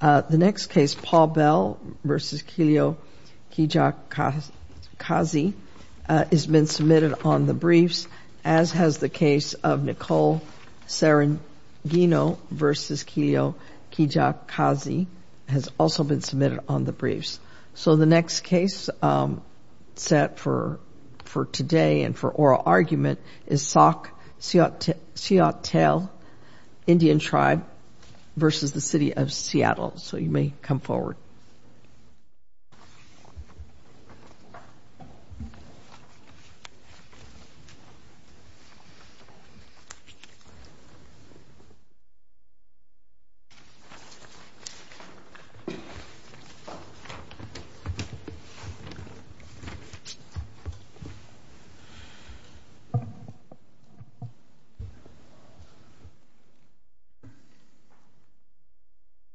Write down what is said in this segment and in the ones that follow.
Paul Bell v. Kiliokijakazi So the next case set for today and for oral argument is Sauk-Suiattle Indian Tribe v. City of Seattle. So you may come forward.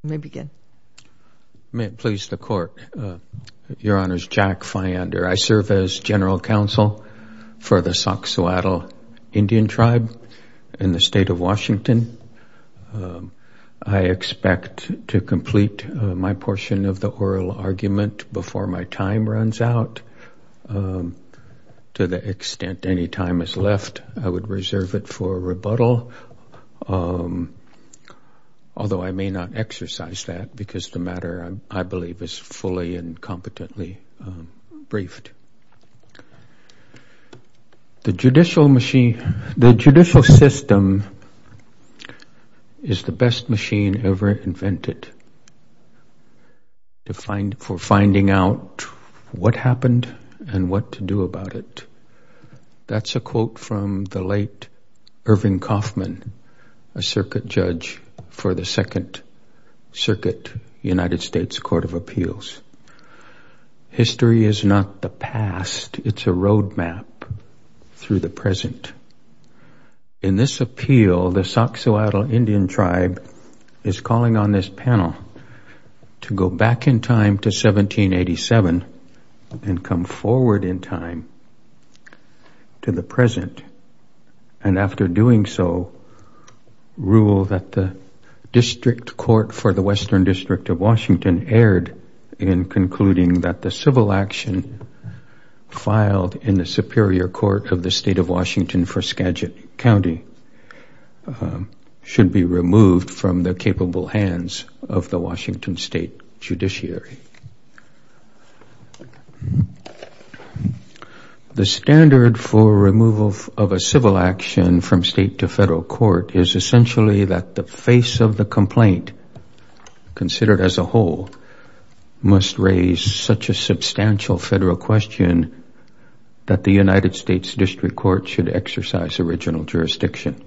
You may begin. May it please the court. Your Honor's Jack Fyander. I serve as general counsel for the Sauk-Suiattle Indian Tribe in the state of Washington. I expect to complete my portion of the oral argument before my time runs out. To the extent any time is left, I would reserve it for rebuttal. Although I may not exercise that because the matter I believe is fully and competently briefed. The judicial system is the best machine ever invented for finding out what happened and what to do about it. That's a quote from the late Irving Kaufman, a circuit judge for the Second Circuit United States Court of Appeals. History is not the past. It's a roadmap through the present. In this appeal, the Sauk-Suiattle Indian Tribe is calling on this panel to go back in time to 1787 and come forward in time to the present. And after doing so, rule that the District Court for the Western District of Washington erred in concluding that the civil action filed in the Superior Court of the State of Washington for Skagit County should be removed from the capable hands of the Washington State Judiciary. The standard for removal of a civil action from state to federal court is essentially that the face of the complaint, considered as a whole, must raise such a substantial federal question that the United States District Court should exercise original jurisdiction.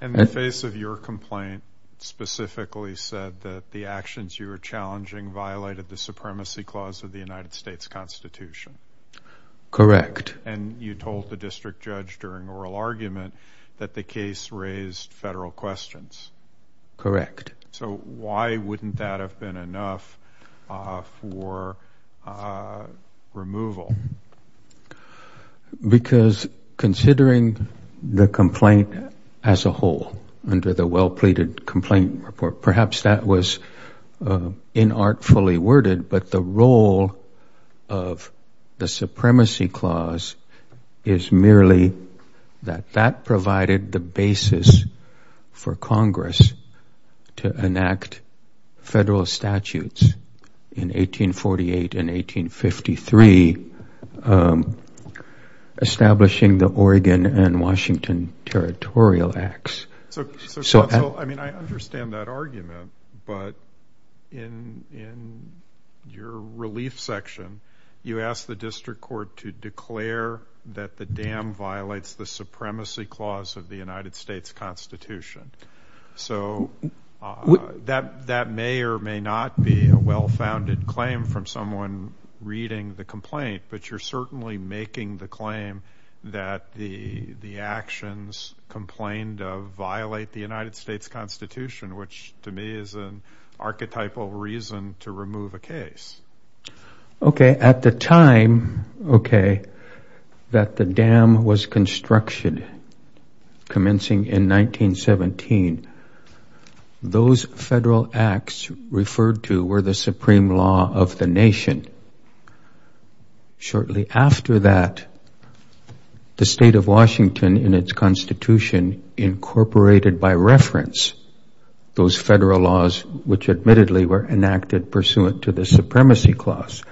And the face of your complaint specifically said that the actions you were challenging violated the supremacy clause of the United States Constitution. Correct. And you told the district judge during oral argument that the case raised federal questions. Correct. So why wouldn't that have been enough for removal? Because considering the complaint as a whole under the well-pleaded complaint report, perhaps that was inartfully worded, but the role of the supremacy clause is merely that that provided the basis for Congress to enact federal statutes in 1848 and 1853 establishing the Oregon and Washington Territorial Acts. So, I mean, I understand that argument, but in your relief section, you asked the District Court to declare that the dam violates the supremacy clause of the United States Constitution. So that may or may not be a well-founded claim from someone reading the complaint, but you're certainly making the claim that the actions complained of violate the United States Constitution, which to me is an archetypal reason to remove a case. Okay, at the time, okay, that the dam was constructed, commencing in 1917, those federal acts referred to were the supreme law of the nation. Shortly after that, the state of Washington in its constitution incorporated by reference those federal laws, which admittedly were enacted pursuant to the supremacy clause.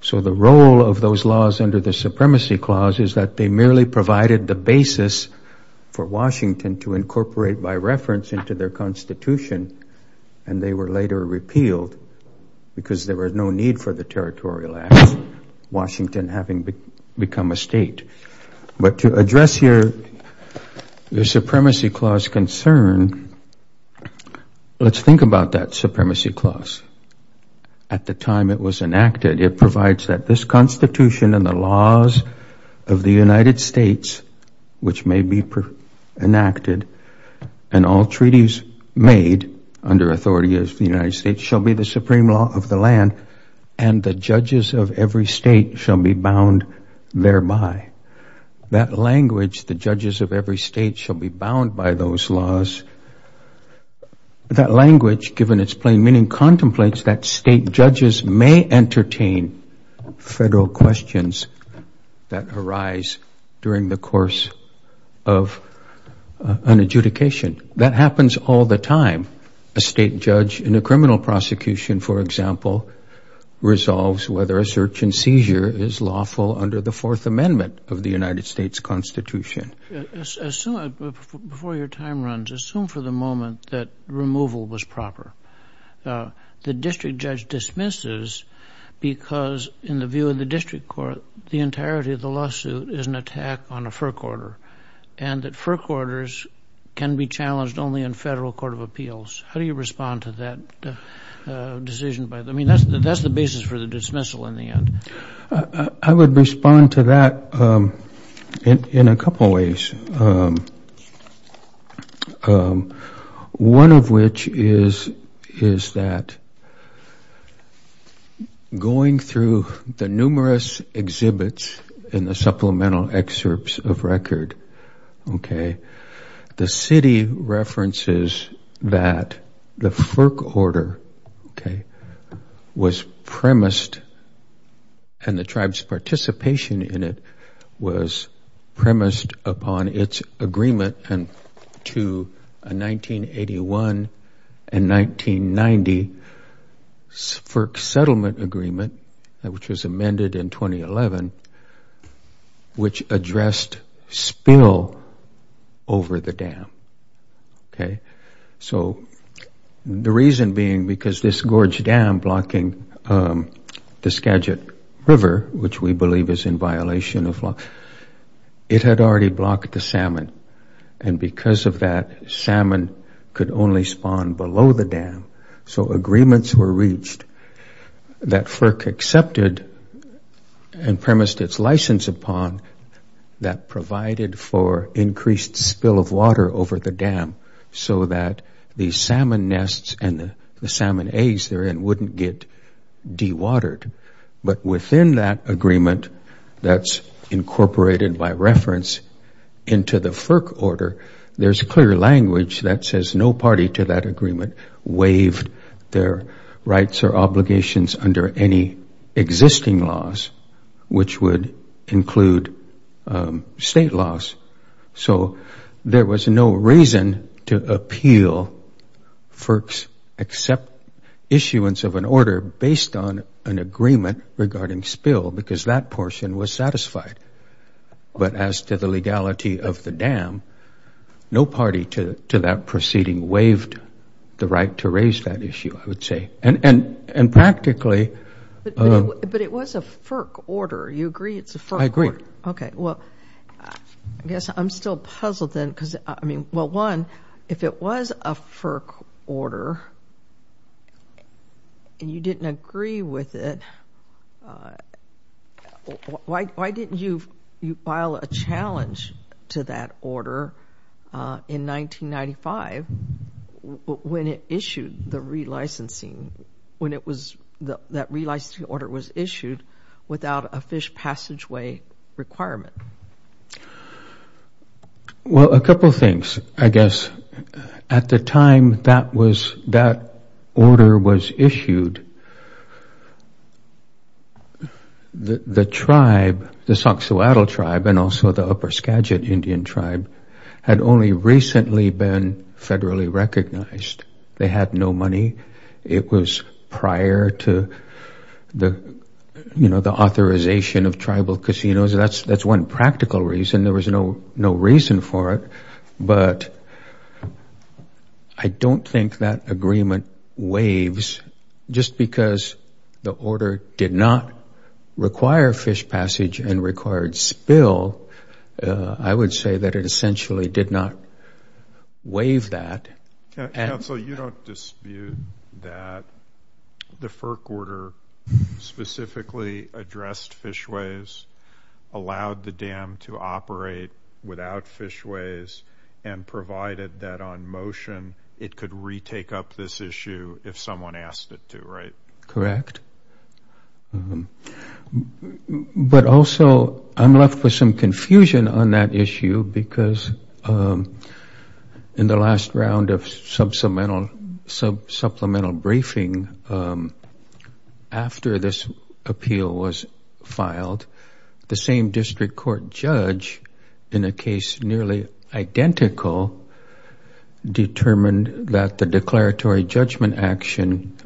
So the role of those laws under the supremacy clause is that they merely provided the basis for Washington to incorporate by reference into their constitution, and they were later repealed because there was no need for the territorial acts, Washington having become a state. But to address your supremacy clause concern, let's think about that supremacy clause. At the time it was enacted, it provides that this constitution and the laws of the United States, which may be enacted and all treaties made under authority of the United States, shall be the supreme law of the land, and the judges of every state shall be bound thereby. That language, the judges of every state shall be bound by those laws, that language, given its plain meaning, contemplates that state judges may entertain federal questions that arise during the course of an adjudication. That happens all the time. A state judge in a criminal prosecution, for example, resolves whether a search and seizure is lawful under the Fourth Amendment of the United States Constitution. Assume, before your time runs, assume for the moment that removal was proper. The district judge dismisses because, in the view of the district court, the entirety of the lawsuit is an attack on a FERC order, and that FERC orders can be challenged only in federal court of appeals. How do you respond to that decision? I mean, that's the basis for the dismissal in the end. I would respond to that in a couple ways, one of which is that going through the numerous exhibits in the supplemental excerpts of record, okay, the city references that the FERC order, okay, was premised, and the tribe's participation in it was premised upon its agreement to a 1981 and 1990 FERC settlement agreement, which was amended in 2011, which addressed spill over the dam, okay? So, the reason being because this gorge dam blocking the Skagit River, which we believe is in violation of law, it had already blocked the salmon, and because of that, salmon could only spawn below the dam. So, agreements were reached that FERC accepted and premised its license upon that provided for increased spill of water over the dam so that the salmon nests and the salmon eggs therein wouldn't get dewatered. But within that agreement that's incorporated by reference into the FERC order, there's clear language that says no party to that agreement waived their rights or obligations under any existing laws, which would include state laws. So, there was no reason to appeal FERC's issuance of an order based on an agreement regarding spill because that portion was satisfied. But as to the legality of the dam, no party to that proceeding waived the right to raise that issue, I would say. And practically— But it was a FERC order. I agree. Okay. Well, I guess I'm still puzzled then because, I mean, well, one, if it was a FERC order and you didn't agree with it, why didn't you file a challenge to that order in 1995 when it issued the relicensing—when it was—that relicensing order was issued without a fish passageway requirement? Well, a couple things, I guess. At the time that was—that order was issued, the tribe, the Soxhoatl tribe and also the upper Skagit Indian tribe, had only recently been federally recognized. They had no money. It was prior to the, you know, the authorization of tribal casinos. That's one practical reason. There was no reason for it. But I don't think that agreement waives. Just because the order did not require fish passage and required spill, I would say that it essentially did not waive that. Council, you don't dispute that the FERC order specifically addressed fishways, allowed the dam to operate without fishways, and provided that on motion it could retake up this issue if someone asked it to, right? Correct. But also, I'm left with some confusion on that issue because in the last round of sub-supplemental briefing after this appeal was filed, the same district court judge in a case nearly identical determined that the declaratory judgment action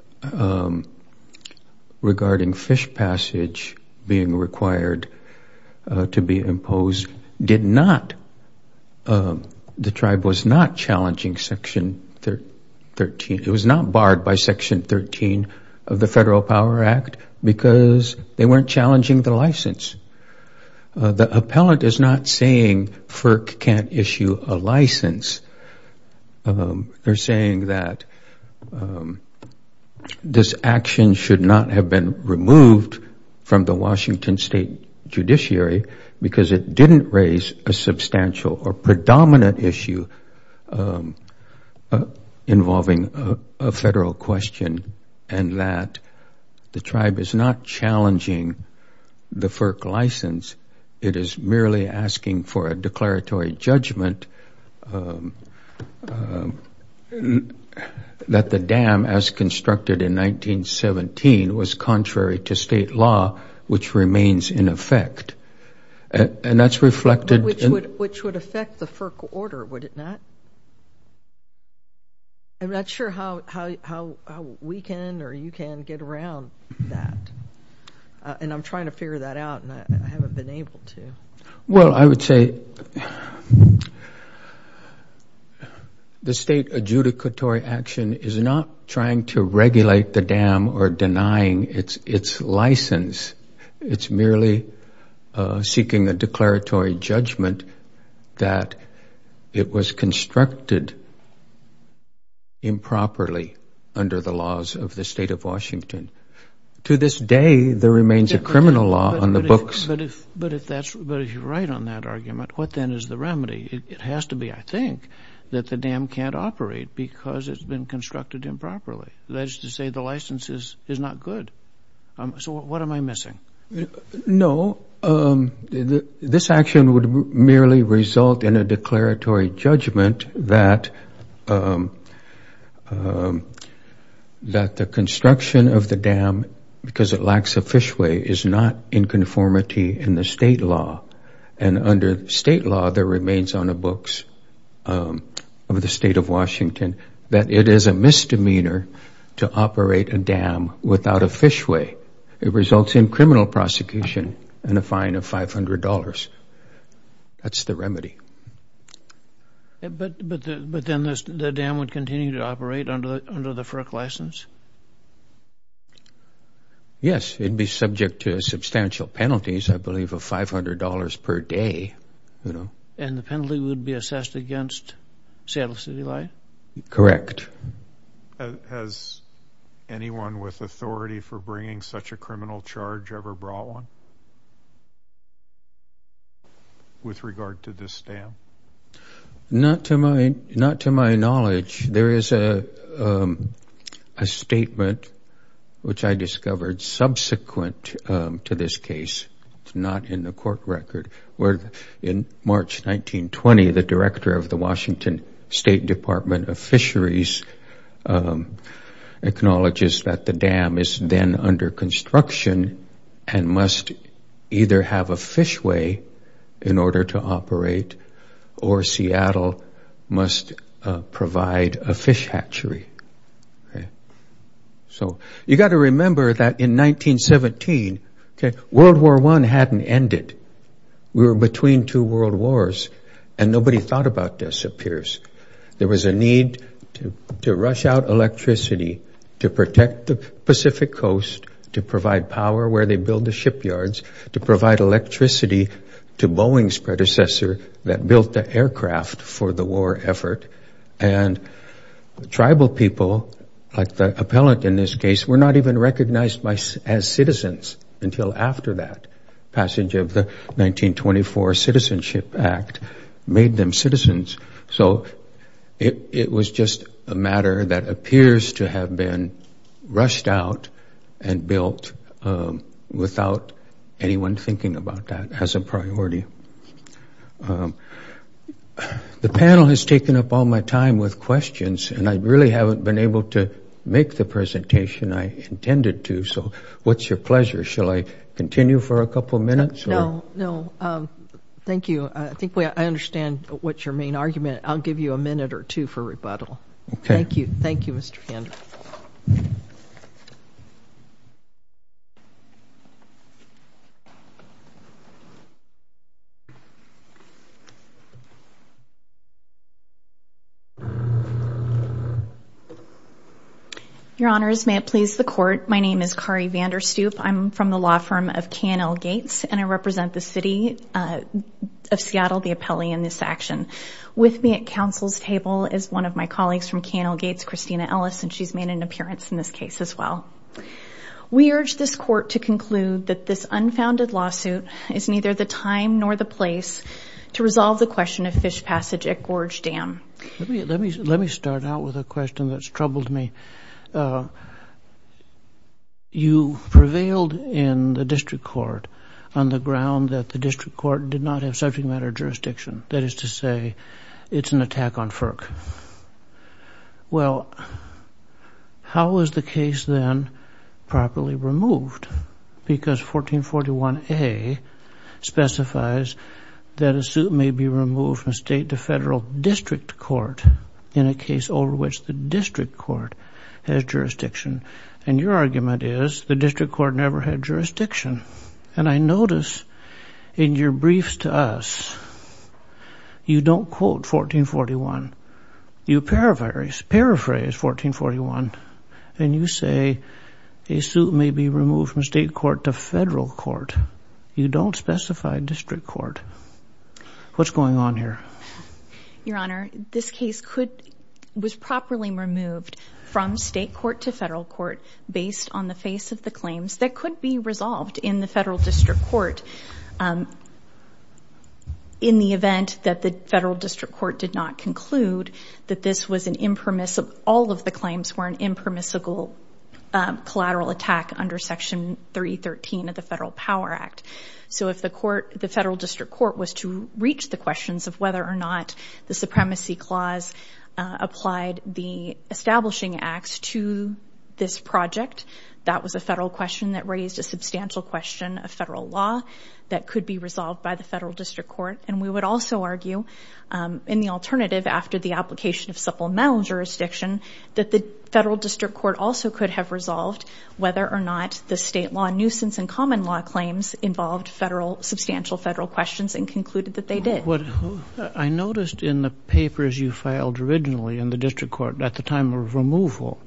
regarding fish passage being required to be imposed did not—the tribe was not challenging Section 13. It was not barred by Section 13 of the Federal Power Act because they weren't challenging the license. The appellant is not saying FERC can't issue a license. They're saying that this action should not have been removed from the Washington state judiciary because it didn't raise a substantial or predominant issue involving a federal question and that the tribe is not challenging the FERC license. It is merely asking for a declaratory judgment that the dam, as constructed in 1917, was contrary to state law, which remains in effect. And that's reflected in— Which would affect the FERC order, would it not? I'm not sure how we can or you can get around that. And I'm trying to figure that out and I haven't been able to. Well, I would say the state adjudicatory action is not trying to regulate the dam or denying its license. It's merely seeking a declaratory judgment that it was constructed improperly under the laws of the state of Washington. To this day, there remains a criminal law on the books. But if you're right on that argument, what then is the remedy? It has to be, I think, that the dam can't operate because it's been constructed improperly. That is to say the license is not good. So what am I missing? No, this action would merely result in a declaratory judgment that the construction of the dam, because it lacks a fishway, is not in conformity in the state law. And under state law, there remains on the books of the state of Washington that it is a misdemeanor to operate a dam without a fishway. It results in criminal prosecution and a fine of $500. That's the remedy. But then the dam would continue to operate under the FERC license? Yes, it would be subject to substantial penalties, I believe, of $500 per day. And the penalty would be assessed against Seattle City Light? Correct. Has anyone with authority for bringing such a criminal charge ever brought one with regard to this dam? Not to my knowledge. There is a statement which I discovered subsequent to this case. It's not in the court record. In March 1920, the director of the Washington State Department of Fisheries acknowledges that the dam is then under construction and must either have a fishway in order to operate, or Seattle must provide a fish hatchery. So you've got to remember that in 1917, World War I hadn't ended. We were between two world wars, and nobody thought about this, it appears. There was a need to rush out electricity to protect the Pacific coast, to provide power where they build the shipyards, to provide electricity to Boeing's predecessor that built the aircraft for the war effort. And the tribal people, like the appellant in this case, were not even recognized as citizens until after that passage of the 1924 Citizenship Act made them citizens. So it was just a matter that appears to have been rushed out and built without anyone thinking about that as a priority. The panel has taken up all my time with questions, and I really haven't been able to make the presentation I intended to. So what's your pleasure? Shall I continue for a couple minutes? No, no. Thank you. I think I understand what's your main argument. I'll give you a minute or two for rebuttal. Okay. Thank you. Thank you, Mr. Vanderstoep. Your Honors, may it please the Court, my name is Kari Vanderstoep. I'm from the law firm of K&L Gates, and I represent the City of Seattle, the appellee in this action. With me at counsel's table is one of my colleagues from K&L Gates, Christina Ellis, and she's made an appearance in this case as well. We urge this Court to conclude that this unfounded lawsuit is neither the time nor the place to resolve the question of fish passage at Gorge Dam. Let me start out with a question that's troubled me. You prevailed in the district court on the ground that the district court did not have subject matter jurisdiction. That is to say, it's an attack on FERC. Well, how was the case then properly removed? Because 1441A specifies that a suit may be removed from state to federal district court in a case over which the district court has jurisdiction. And your argument is the district court never had jurisdiction. And I notice in your briefs to us, you don't quote 1441. You paraphrase 1441, and you say a suit may be removed from state court to federal court. You don't specify district court. What's going on here? Your Honor, this case was properly removed from state court to federal court based on the face of the claims that could be resolved in the federal district court in the event that the federal district court did not conclude that all of the claims were an impermissible collateral attack under Section 313 of the Federal Power Act. So if the federal district court was to reach the questions of whether or not the supremacy clause applied the establishing acts to this project, that was a federal question that raised a substantial question of federal law that could be resolved by the federal district court. And we would also argue, in the alternative, after the application of supplemental jurisdiction, that the federal district court also could have resolved whether or not the state law nuisance and common law claims involved substantial federal questions and concluded that they did. I noticed in the papers you filed originally in the district court at the time of removal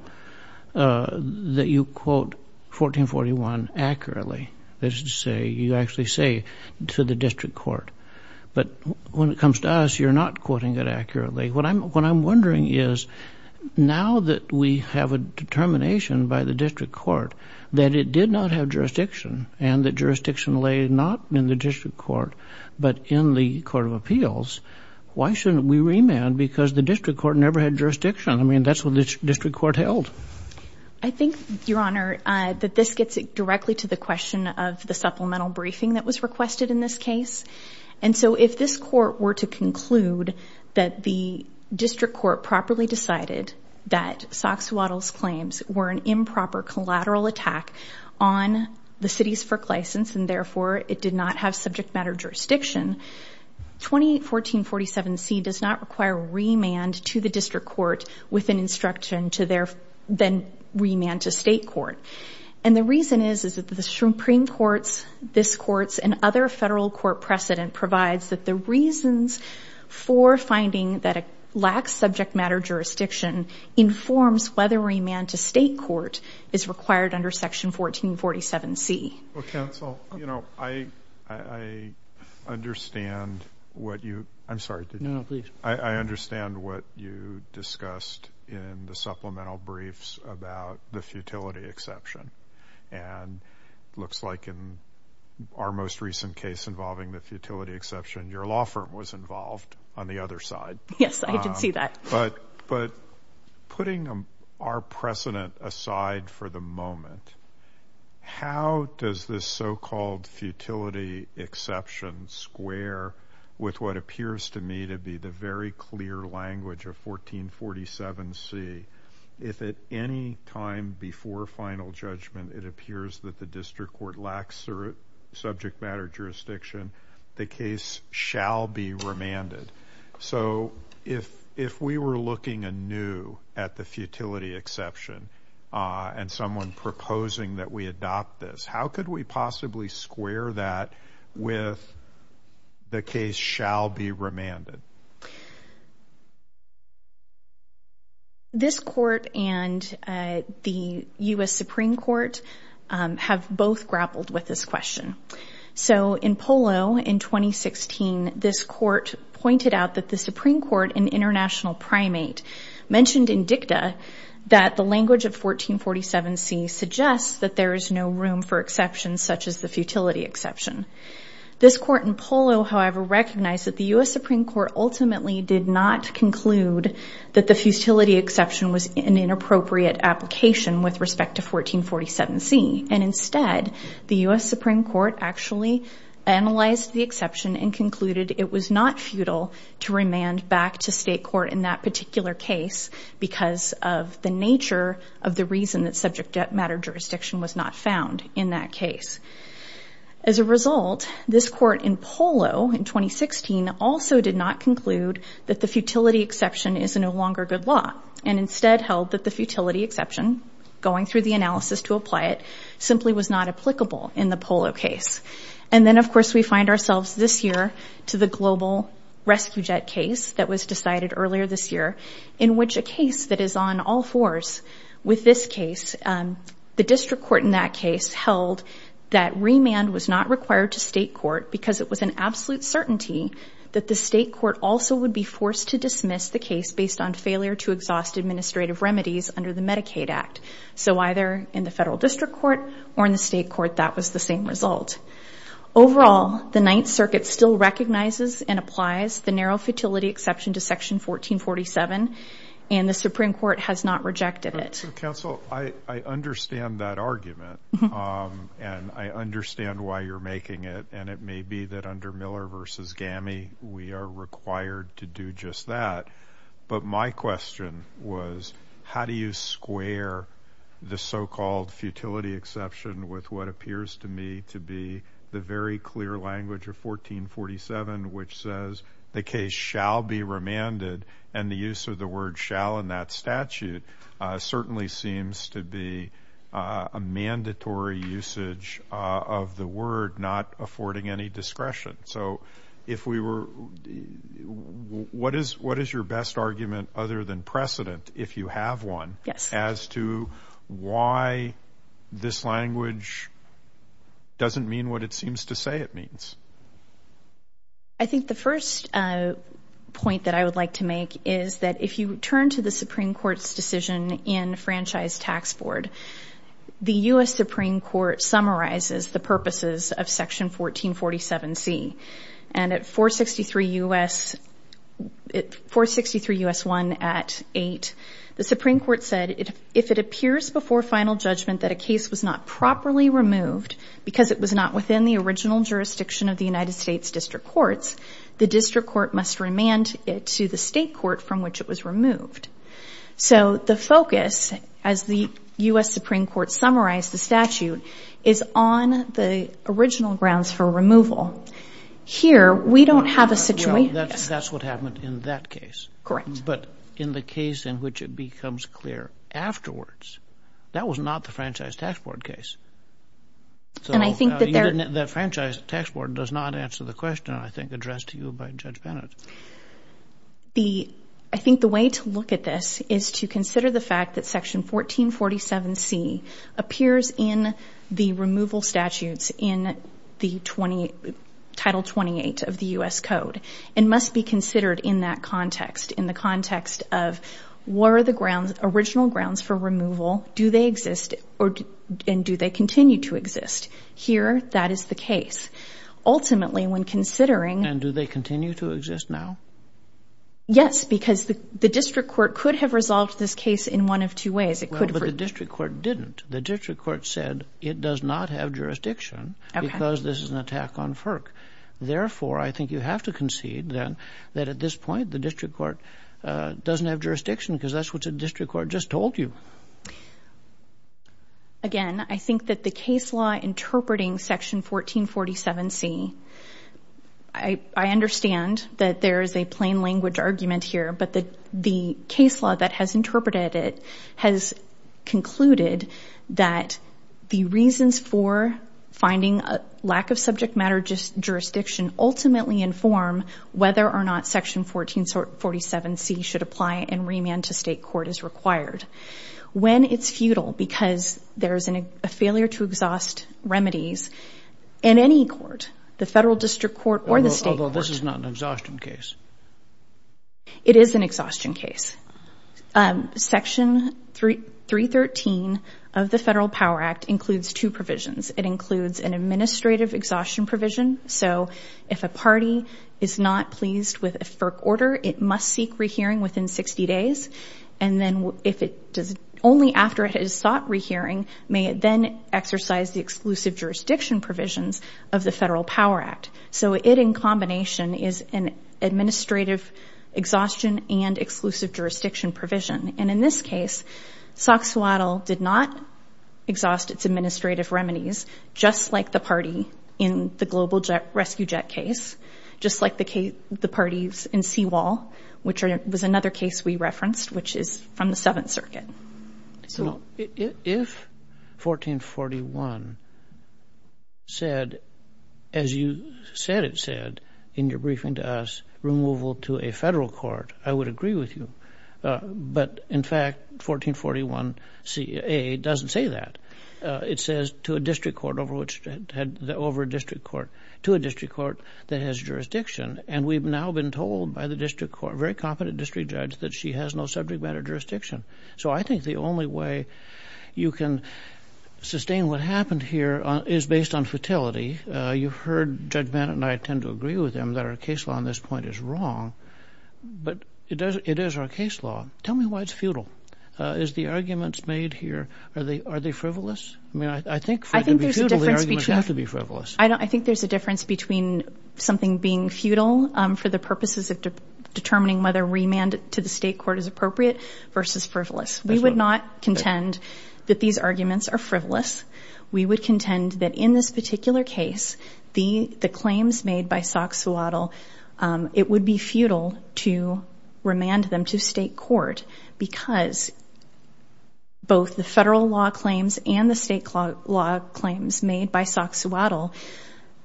that you quote 1441 accurately. You actually say to the district court. But when it comes to us, you're not quoting it accurately. What I'm wondering is, now that we have a determination by the district court that it did not have jurisdiction and that jurisdiction lay not in the district court but in the Court of Appeals, why shouldn't we remand because the district court never had jurisdiction? I mean, that's what the district court held. I think, Your Honor, that this gets directly to the question of the supplemental briefing that was requested in this case. And so if this court were to conclude that the district court properly decided that Soxhawtl's claims were an improper collateral attack on the cities for license and, therefore, it did not have subject matter jurisdiction, 281447C does not require remand to the district court with an instruction to then remand to state court. And the reason is that the Supreme Court's, this court's, and other federal court precedent provides that the reasons for finding that it lacks subject matter jurisdiction informs whether remand to state court is required under Section 1447C. Well, counsel, you know, I understand what you – I'm sorry. No, no, please. And it looks like in our most recent case involving the futility exception, your law firm was involved on the other side. Yes, I did see that. But putting our precedent aside for the moment, how does this so-called futility exception square with what appears to me to be the very clear language of 1447C? If at any time before final judgment it appears that the district court lacks subject matter jurisdiction, the case shall be remanded. So if we were looking anew at the futility exception and someone proposing that we adopt this, how could we possibly square that with the case shall be remanded? This court and the U.S. Supreme Court have both grappled with this question. So in Polo in 2016, this court pointed out that the Supreme Court, an international primate, mentioned in dicta that the language of 1447C suggests that there is no room for exceptions such as the futility exception. This court in Polo, however, recognized that the U.S. Supreme Court ultimately did not conclude that the futility exception was an inappropriate application with respect to 1447C. And instead, the U.S. Supreme Court actually analyzed the exception and concluded it was not futile to remand back to state court in that particular case because of the nature of the reason that subject matter jurisdiction was not found in that case. As a result, this court in Polo in 2016 also did not conclude that the futility exception is no longer good law and instead held that the futility exception, going through the analysis to apply it, simply was not applicable in the Polo case. And then, of course, we find ourselves this year to the global rescue jet case that was decided earlier this year in which a case that is on all fours with this case, the district court in that case held that remand was not required to state court because it was an absolute certainty that the state court also would be forced to dismiss the case based on failure to exhaust administrative remedies under the Medicaid Act. So either in the federal district court or in the state court, that was the same result. Overall, the Ninth Circuit still recognizes and applies the narrow futility exception to Section 1447, and the Supreme Court has not rejected it. So, counsel, I understand that argument, and I understand why you're making it. And it may be that under Miller v. GAMI, we are required to do just that. But my question was how do you square the so-called futility exception with what appears to me to be the very clear language of 1447, which says the case shall be remanded, and the use of the word shall in that statute certainly seems to be a mandatory usage of the word, not affording any discretion. So what is your best argument other than precedent, if you have one, as to why this language doesn't mean what it seems to say it means? I think the first point that I would like to make is that if you turn to the Supreme Court's decision in Franchise Tax Board, the U.S. Supreme Court summarizes the purposes of Section 1447C. And at 463 U.S. 1 at 8, the Supreme Court said, if it appears before final judgment that a case was not properly removed because it was not within the original jurisdiction of the United States District Courts, the District Court must remand it to the state court from which it was removed. So the focus, as the U.S. Supreme Court summarized the statute, is on the original grounds for removal. Here, we don't have a situation. Well, that's what happened in that case. Correct. But in the case in which it becomes clear afterwards, that was not the Franchise Tax Board case. So that Franchise Tax Board does not answer the question I think addressed to you by Judge Bennett. I think the way to look at this is to consider the fact that Section 1447C appears in the removal statutes in Title 28 of the U.S. Code and must be considered in that context, in the context of were the grounds, original grounds for removal, do they exist and do they continue to exist? Here, that is the case. Ultimately, when considering And do they continue to exist now? Yes, because the District Court could have resolved this case in one of two ways. Well, but the District Court didn't. The District Court said it does not have jurisdiction because this is an attack on FERC. Therefore, I think you have to concede then that at this point the District Court doesn't have jurisdiction because that's what the District Court just told you. Again, I think that the case law interpreting Section 1447C, I understand that there is a plain language argument here, but the case law that has interpreted it has concluded that the reasons for finding a lack of subject matter jurisdiction ultimately inform whether or not Section 1447C should apply and remand to state court is required. When it's futile because there's a failure to exhaust remedies in any court, the federal district court or the state court. Although this is not an exhaustion case. It is an exhaustion case. Section 313 of the Federal Power Act includes two provisions. It includes an administrative exhaustion provision. So if a party is not pleased with a FERC order, it must seek rehearing within 60 days. And then if it does only after it has sought rehearing, may it then exercise the exclusive jurisdiction provisions of the Federal Power Act. So it, in combination, is an administrative exhaustion and exclusive jurisdiction provision. And in this case, Soxhawtl did not exhaust its administrative remedies, just like the party in the Global Rescue Jet case, just like the parties in Seawall, which was another case we referenced, which is from the Seventh Circuit. If 1441 said, as you said it said in your briefing to us, removal to a federal court, I would agree with you. But, in fact, 1441CA doesn't say that. It says to a district court over a district court, to a district court that has jurisdiction. And we've now been told by the district court, a very competent district judge, that she has no subject matter jurisdiction. So I think the only way you can sustain what happened here is based on futility. You've heard Judge Bennett and I tend to agree with him that our case law on this point is wrong. But it is our case law. Tell me why it's futile. Is the arguments made here, are they frivolous? I mean, I think for it to be futile, the arguments have to be frivolous. I think there's a difference between something being futile for the purposes of determining whether remand to the state court is appropriate versus frivolous. We would not contend that these arguments are frivolous. We would contend that in this particular case, the claims made by Soxhawtl, it would be futile to remand them to state court because both the federal law claims and the state law claims made by Soxhawtl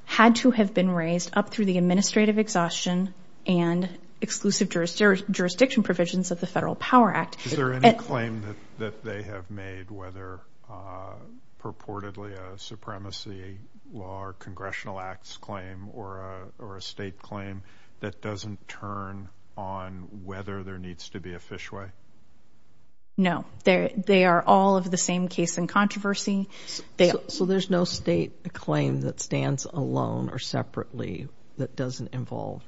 had to have been raised up through the administrative exhaustion and exclusive jurisdiction provisions of the Federal Power Act. Is there any claim that they have made, whether purportedly a supremacy law or congressional acts claim or a state claim, that doesn't turn on whether there needs to be a fishway? No. They are all of the same case in controversy. So there's no state claim that stands alone or separately that doesn't involve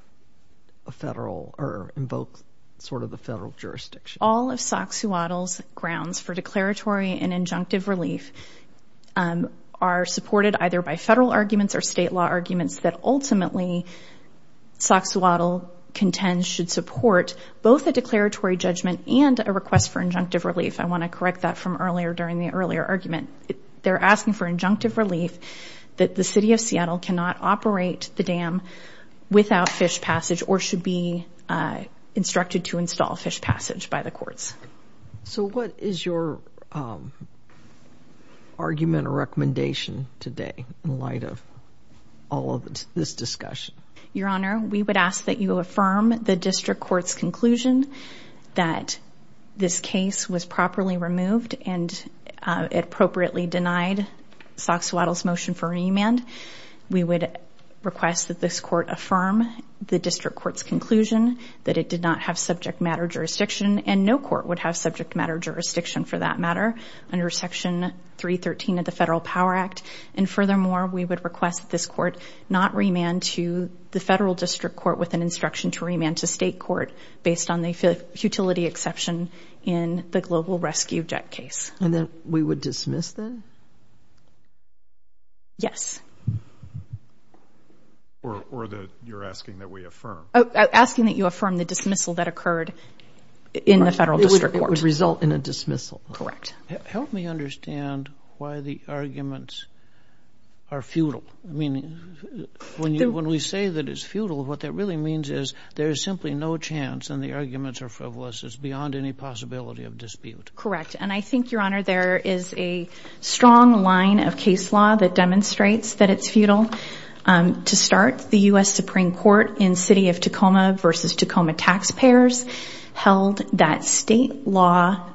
a federal or invoke sort of the federal jurisdiction? All of Soxhawtl's grounds for declaratory and injunctive relief are supported either by federal arguments or state law arguments that ultimately Soxhawtl contends should support both a declaratory judgment and a request for injunctive relief. I want to correct that from earlier during the earlier argument. They're asking for injunctive relief that the City of Seattle cannot operate the dam without fish passage or should be instructed to install fish passage by the courts. So what is your argument or recommendation today in light of all of this discussion? Your Honor, we would ask that you affirm the district court's conclusion that this case was properly removed and appropriately denied Soxhawtl's motion for remand. We would request that this court affirm the district court's conclusion that it did not have subject matter jurisdiction and no court would have subject matter jurisdiction for that matter under Section 313 of the Federal Power Act. And furthermore, we would request this court not remand to the federal district court with an instruction to remand to state court based on the futility exception in the global rescue jet case. And then we would dismiss them? Yes. Or that you're asking that we affirm? Asking that you affirm the dismissal that occurred in the federal district court. It would result in a dismissal. Correct. Help me understand why the arguments are futile. I mean, when we say that it's futile, what that really means is there is simply no chance and the arguments are frivolous. It's beyond any possibility of dispute. Correct. And I think, Your Honor, there is a strong line of case law that demonstrates that it's futile. To start, the U.S. Supreme Court in City of Tacoma versus Tacoma taxpayers held that state law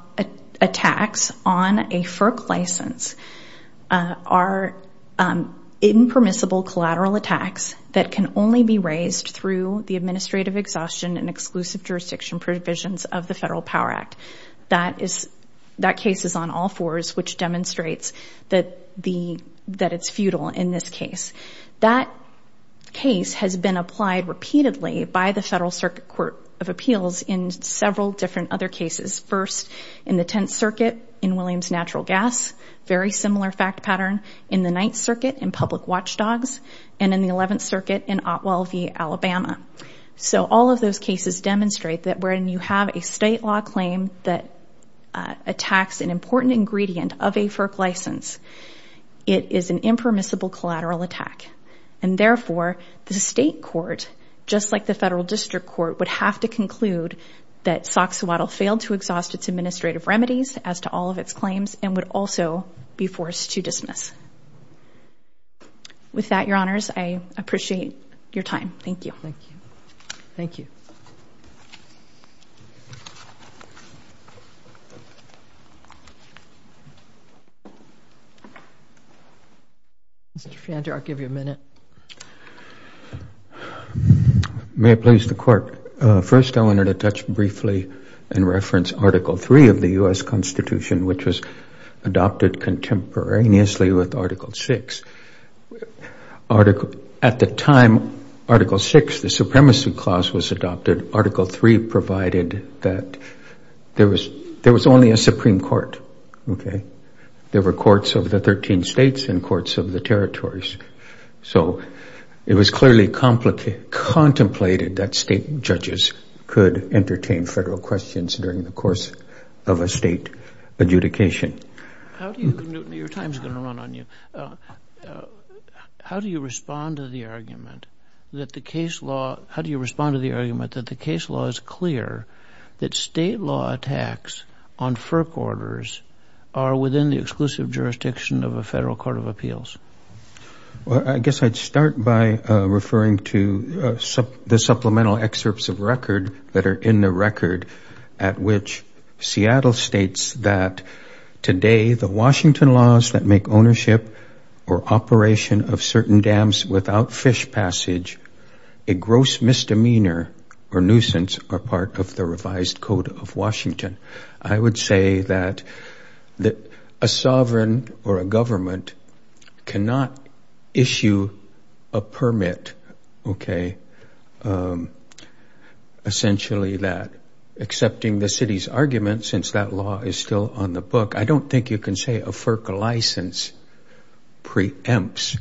attacks on a FERC license are impermissible collateral attacks that can only be raised through the administrative exhaustion and exclusive jurisdiction provisions of the Federal Power Act. That case is on all fours, which demonstrates that it's futile in this case. That case has been applied repeatedly by the Federal Circuit Court of Appeals in several different other cases. First, in the Tenth Circuit in Williams Natural Gas, very similar fact pattern. In the Ninth Circuit in Public Watchdogs. And in the Eleventh Circuit in Otwell v. Alabama. So all of those cases demonstrate that when you have a state law claim that attacks an important ingredient of a FERC license, it is an impermissible collateral attack. And therefore, the state court, just like the Federal District Court, would have to conclude that Soxhawatta failed to exhaust its administrative remedies as to all of its claims and would also be forced to dismiss. With that, Your Honors, I appreciate your time. Thank you. Thank you. Thank you. Mr. Fianta, I'll give you a minute. May it please the Court. First, I wanted to touch briefly and reference Article III of the U.S. Constitution, which was adopted contemporaneously with Article VI. At the time, Article VI, the Supremacy Clause, was adopted. Article III provided that there was only a Supreme Court, okay? There were courts of the 13 states and courts of the territories. So it was clearly contemplated that state judges could entertain federal questions during the course of a state adjudication. Your time is going to run on you. How do you respond to the argument that the case law is clear that state law attacks on FERC orders are within the exclusive jurisdiction of a federal court of appeals? Well, I guess I'd start by referring to the supplemental excerpts of record that are in the record at which Seattle states that, today, the Washington laws that make ownership or operation of certain dams without fish passage a gross misdemeanor or nuisance are part of the revised Code of Washington. I would say that a sovereign or a government cannot issue a permit, okay, essentially that, accepting the city's argument, since that law is still on the book, I don't think you can say a FERC license preempts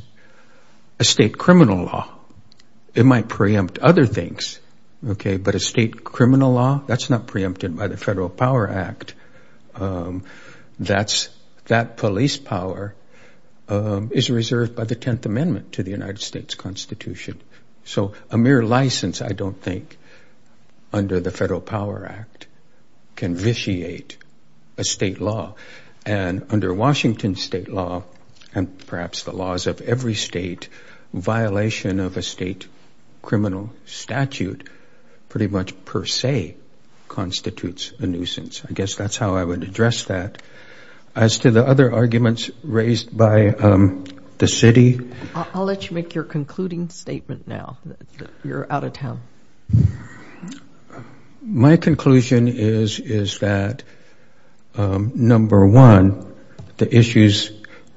a state criminal law. It might preempt other things, okay, but a state criminal law, that's not preempted by the Federal Power Act. That police power is reserved by the Tenth Amendment to the United States Constitution. So a mere license, I don't think, under the Federal Power Act can vitiate a state law. And under Washington state law, and perhaps the laws of every state, violation of a state criminal statute pretty much per se constitutes a nuisance. I guess that's how I would address that. As to the other arguments raised by the city. I'll let you make your concluding statement now. You're out of town. My conclusion is that, number one, the issues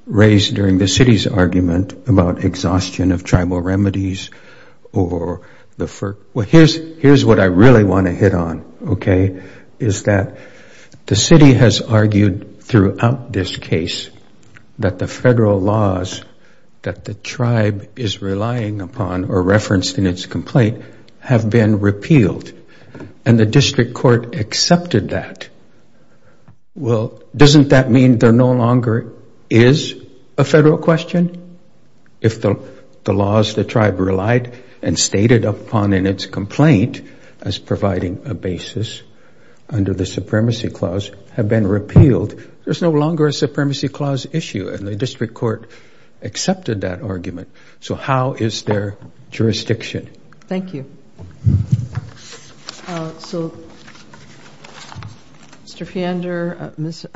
raised during the city's argument about exhaustion of tribal remedies or the FERC, here's what I really want to hit on, okay, is that the city has argued throughout this case that the federal laws that the tribe is relying upon or referenced in its complaint have been repealed. And the district court accepted that. Well, doesn't that mean there no longer is a federal question? If the laws the tribe relied and stated upon in its complaint as providing a basis under the Supremacy Clause have been repealed, there's no longer a Supremacy Clause issue, and the district court accepted that argument. So how is their jurisdiction? Thank you. So, Mr. Fiender, Ms.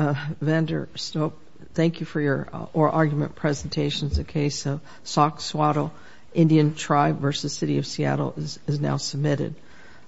Vanderstoep, thank you for your oral argument presentation. The case of Soxwato Indian Tribe v. City of Seattle is now submitted.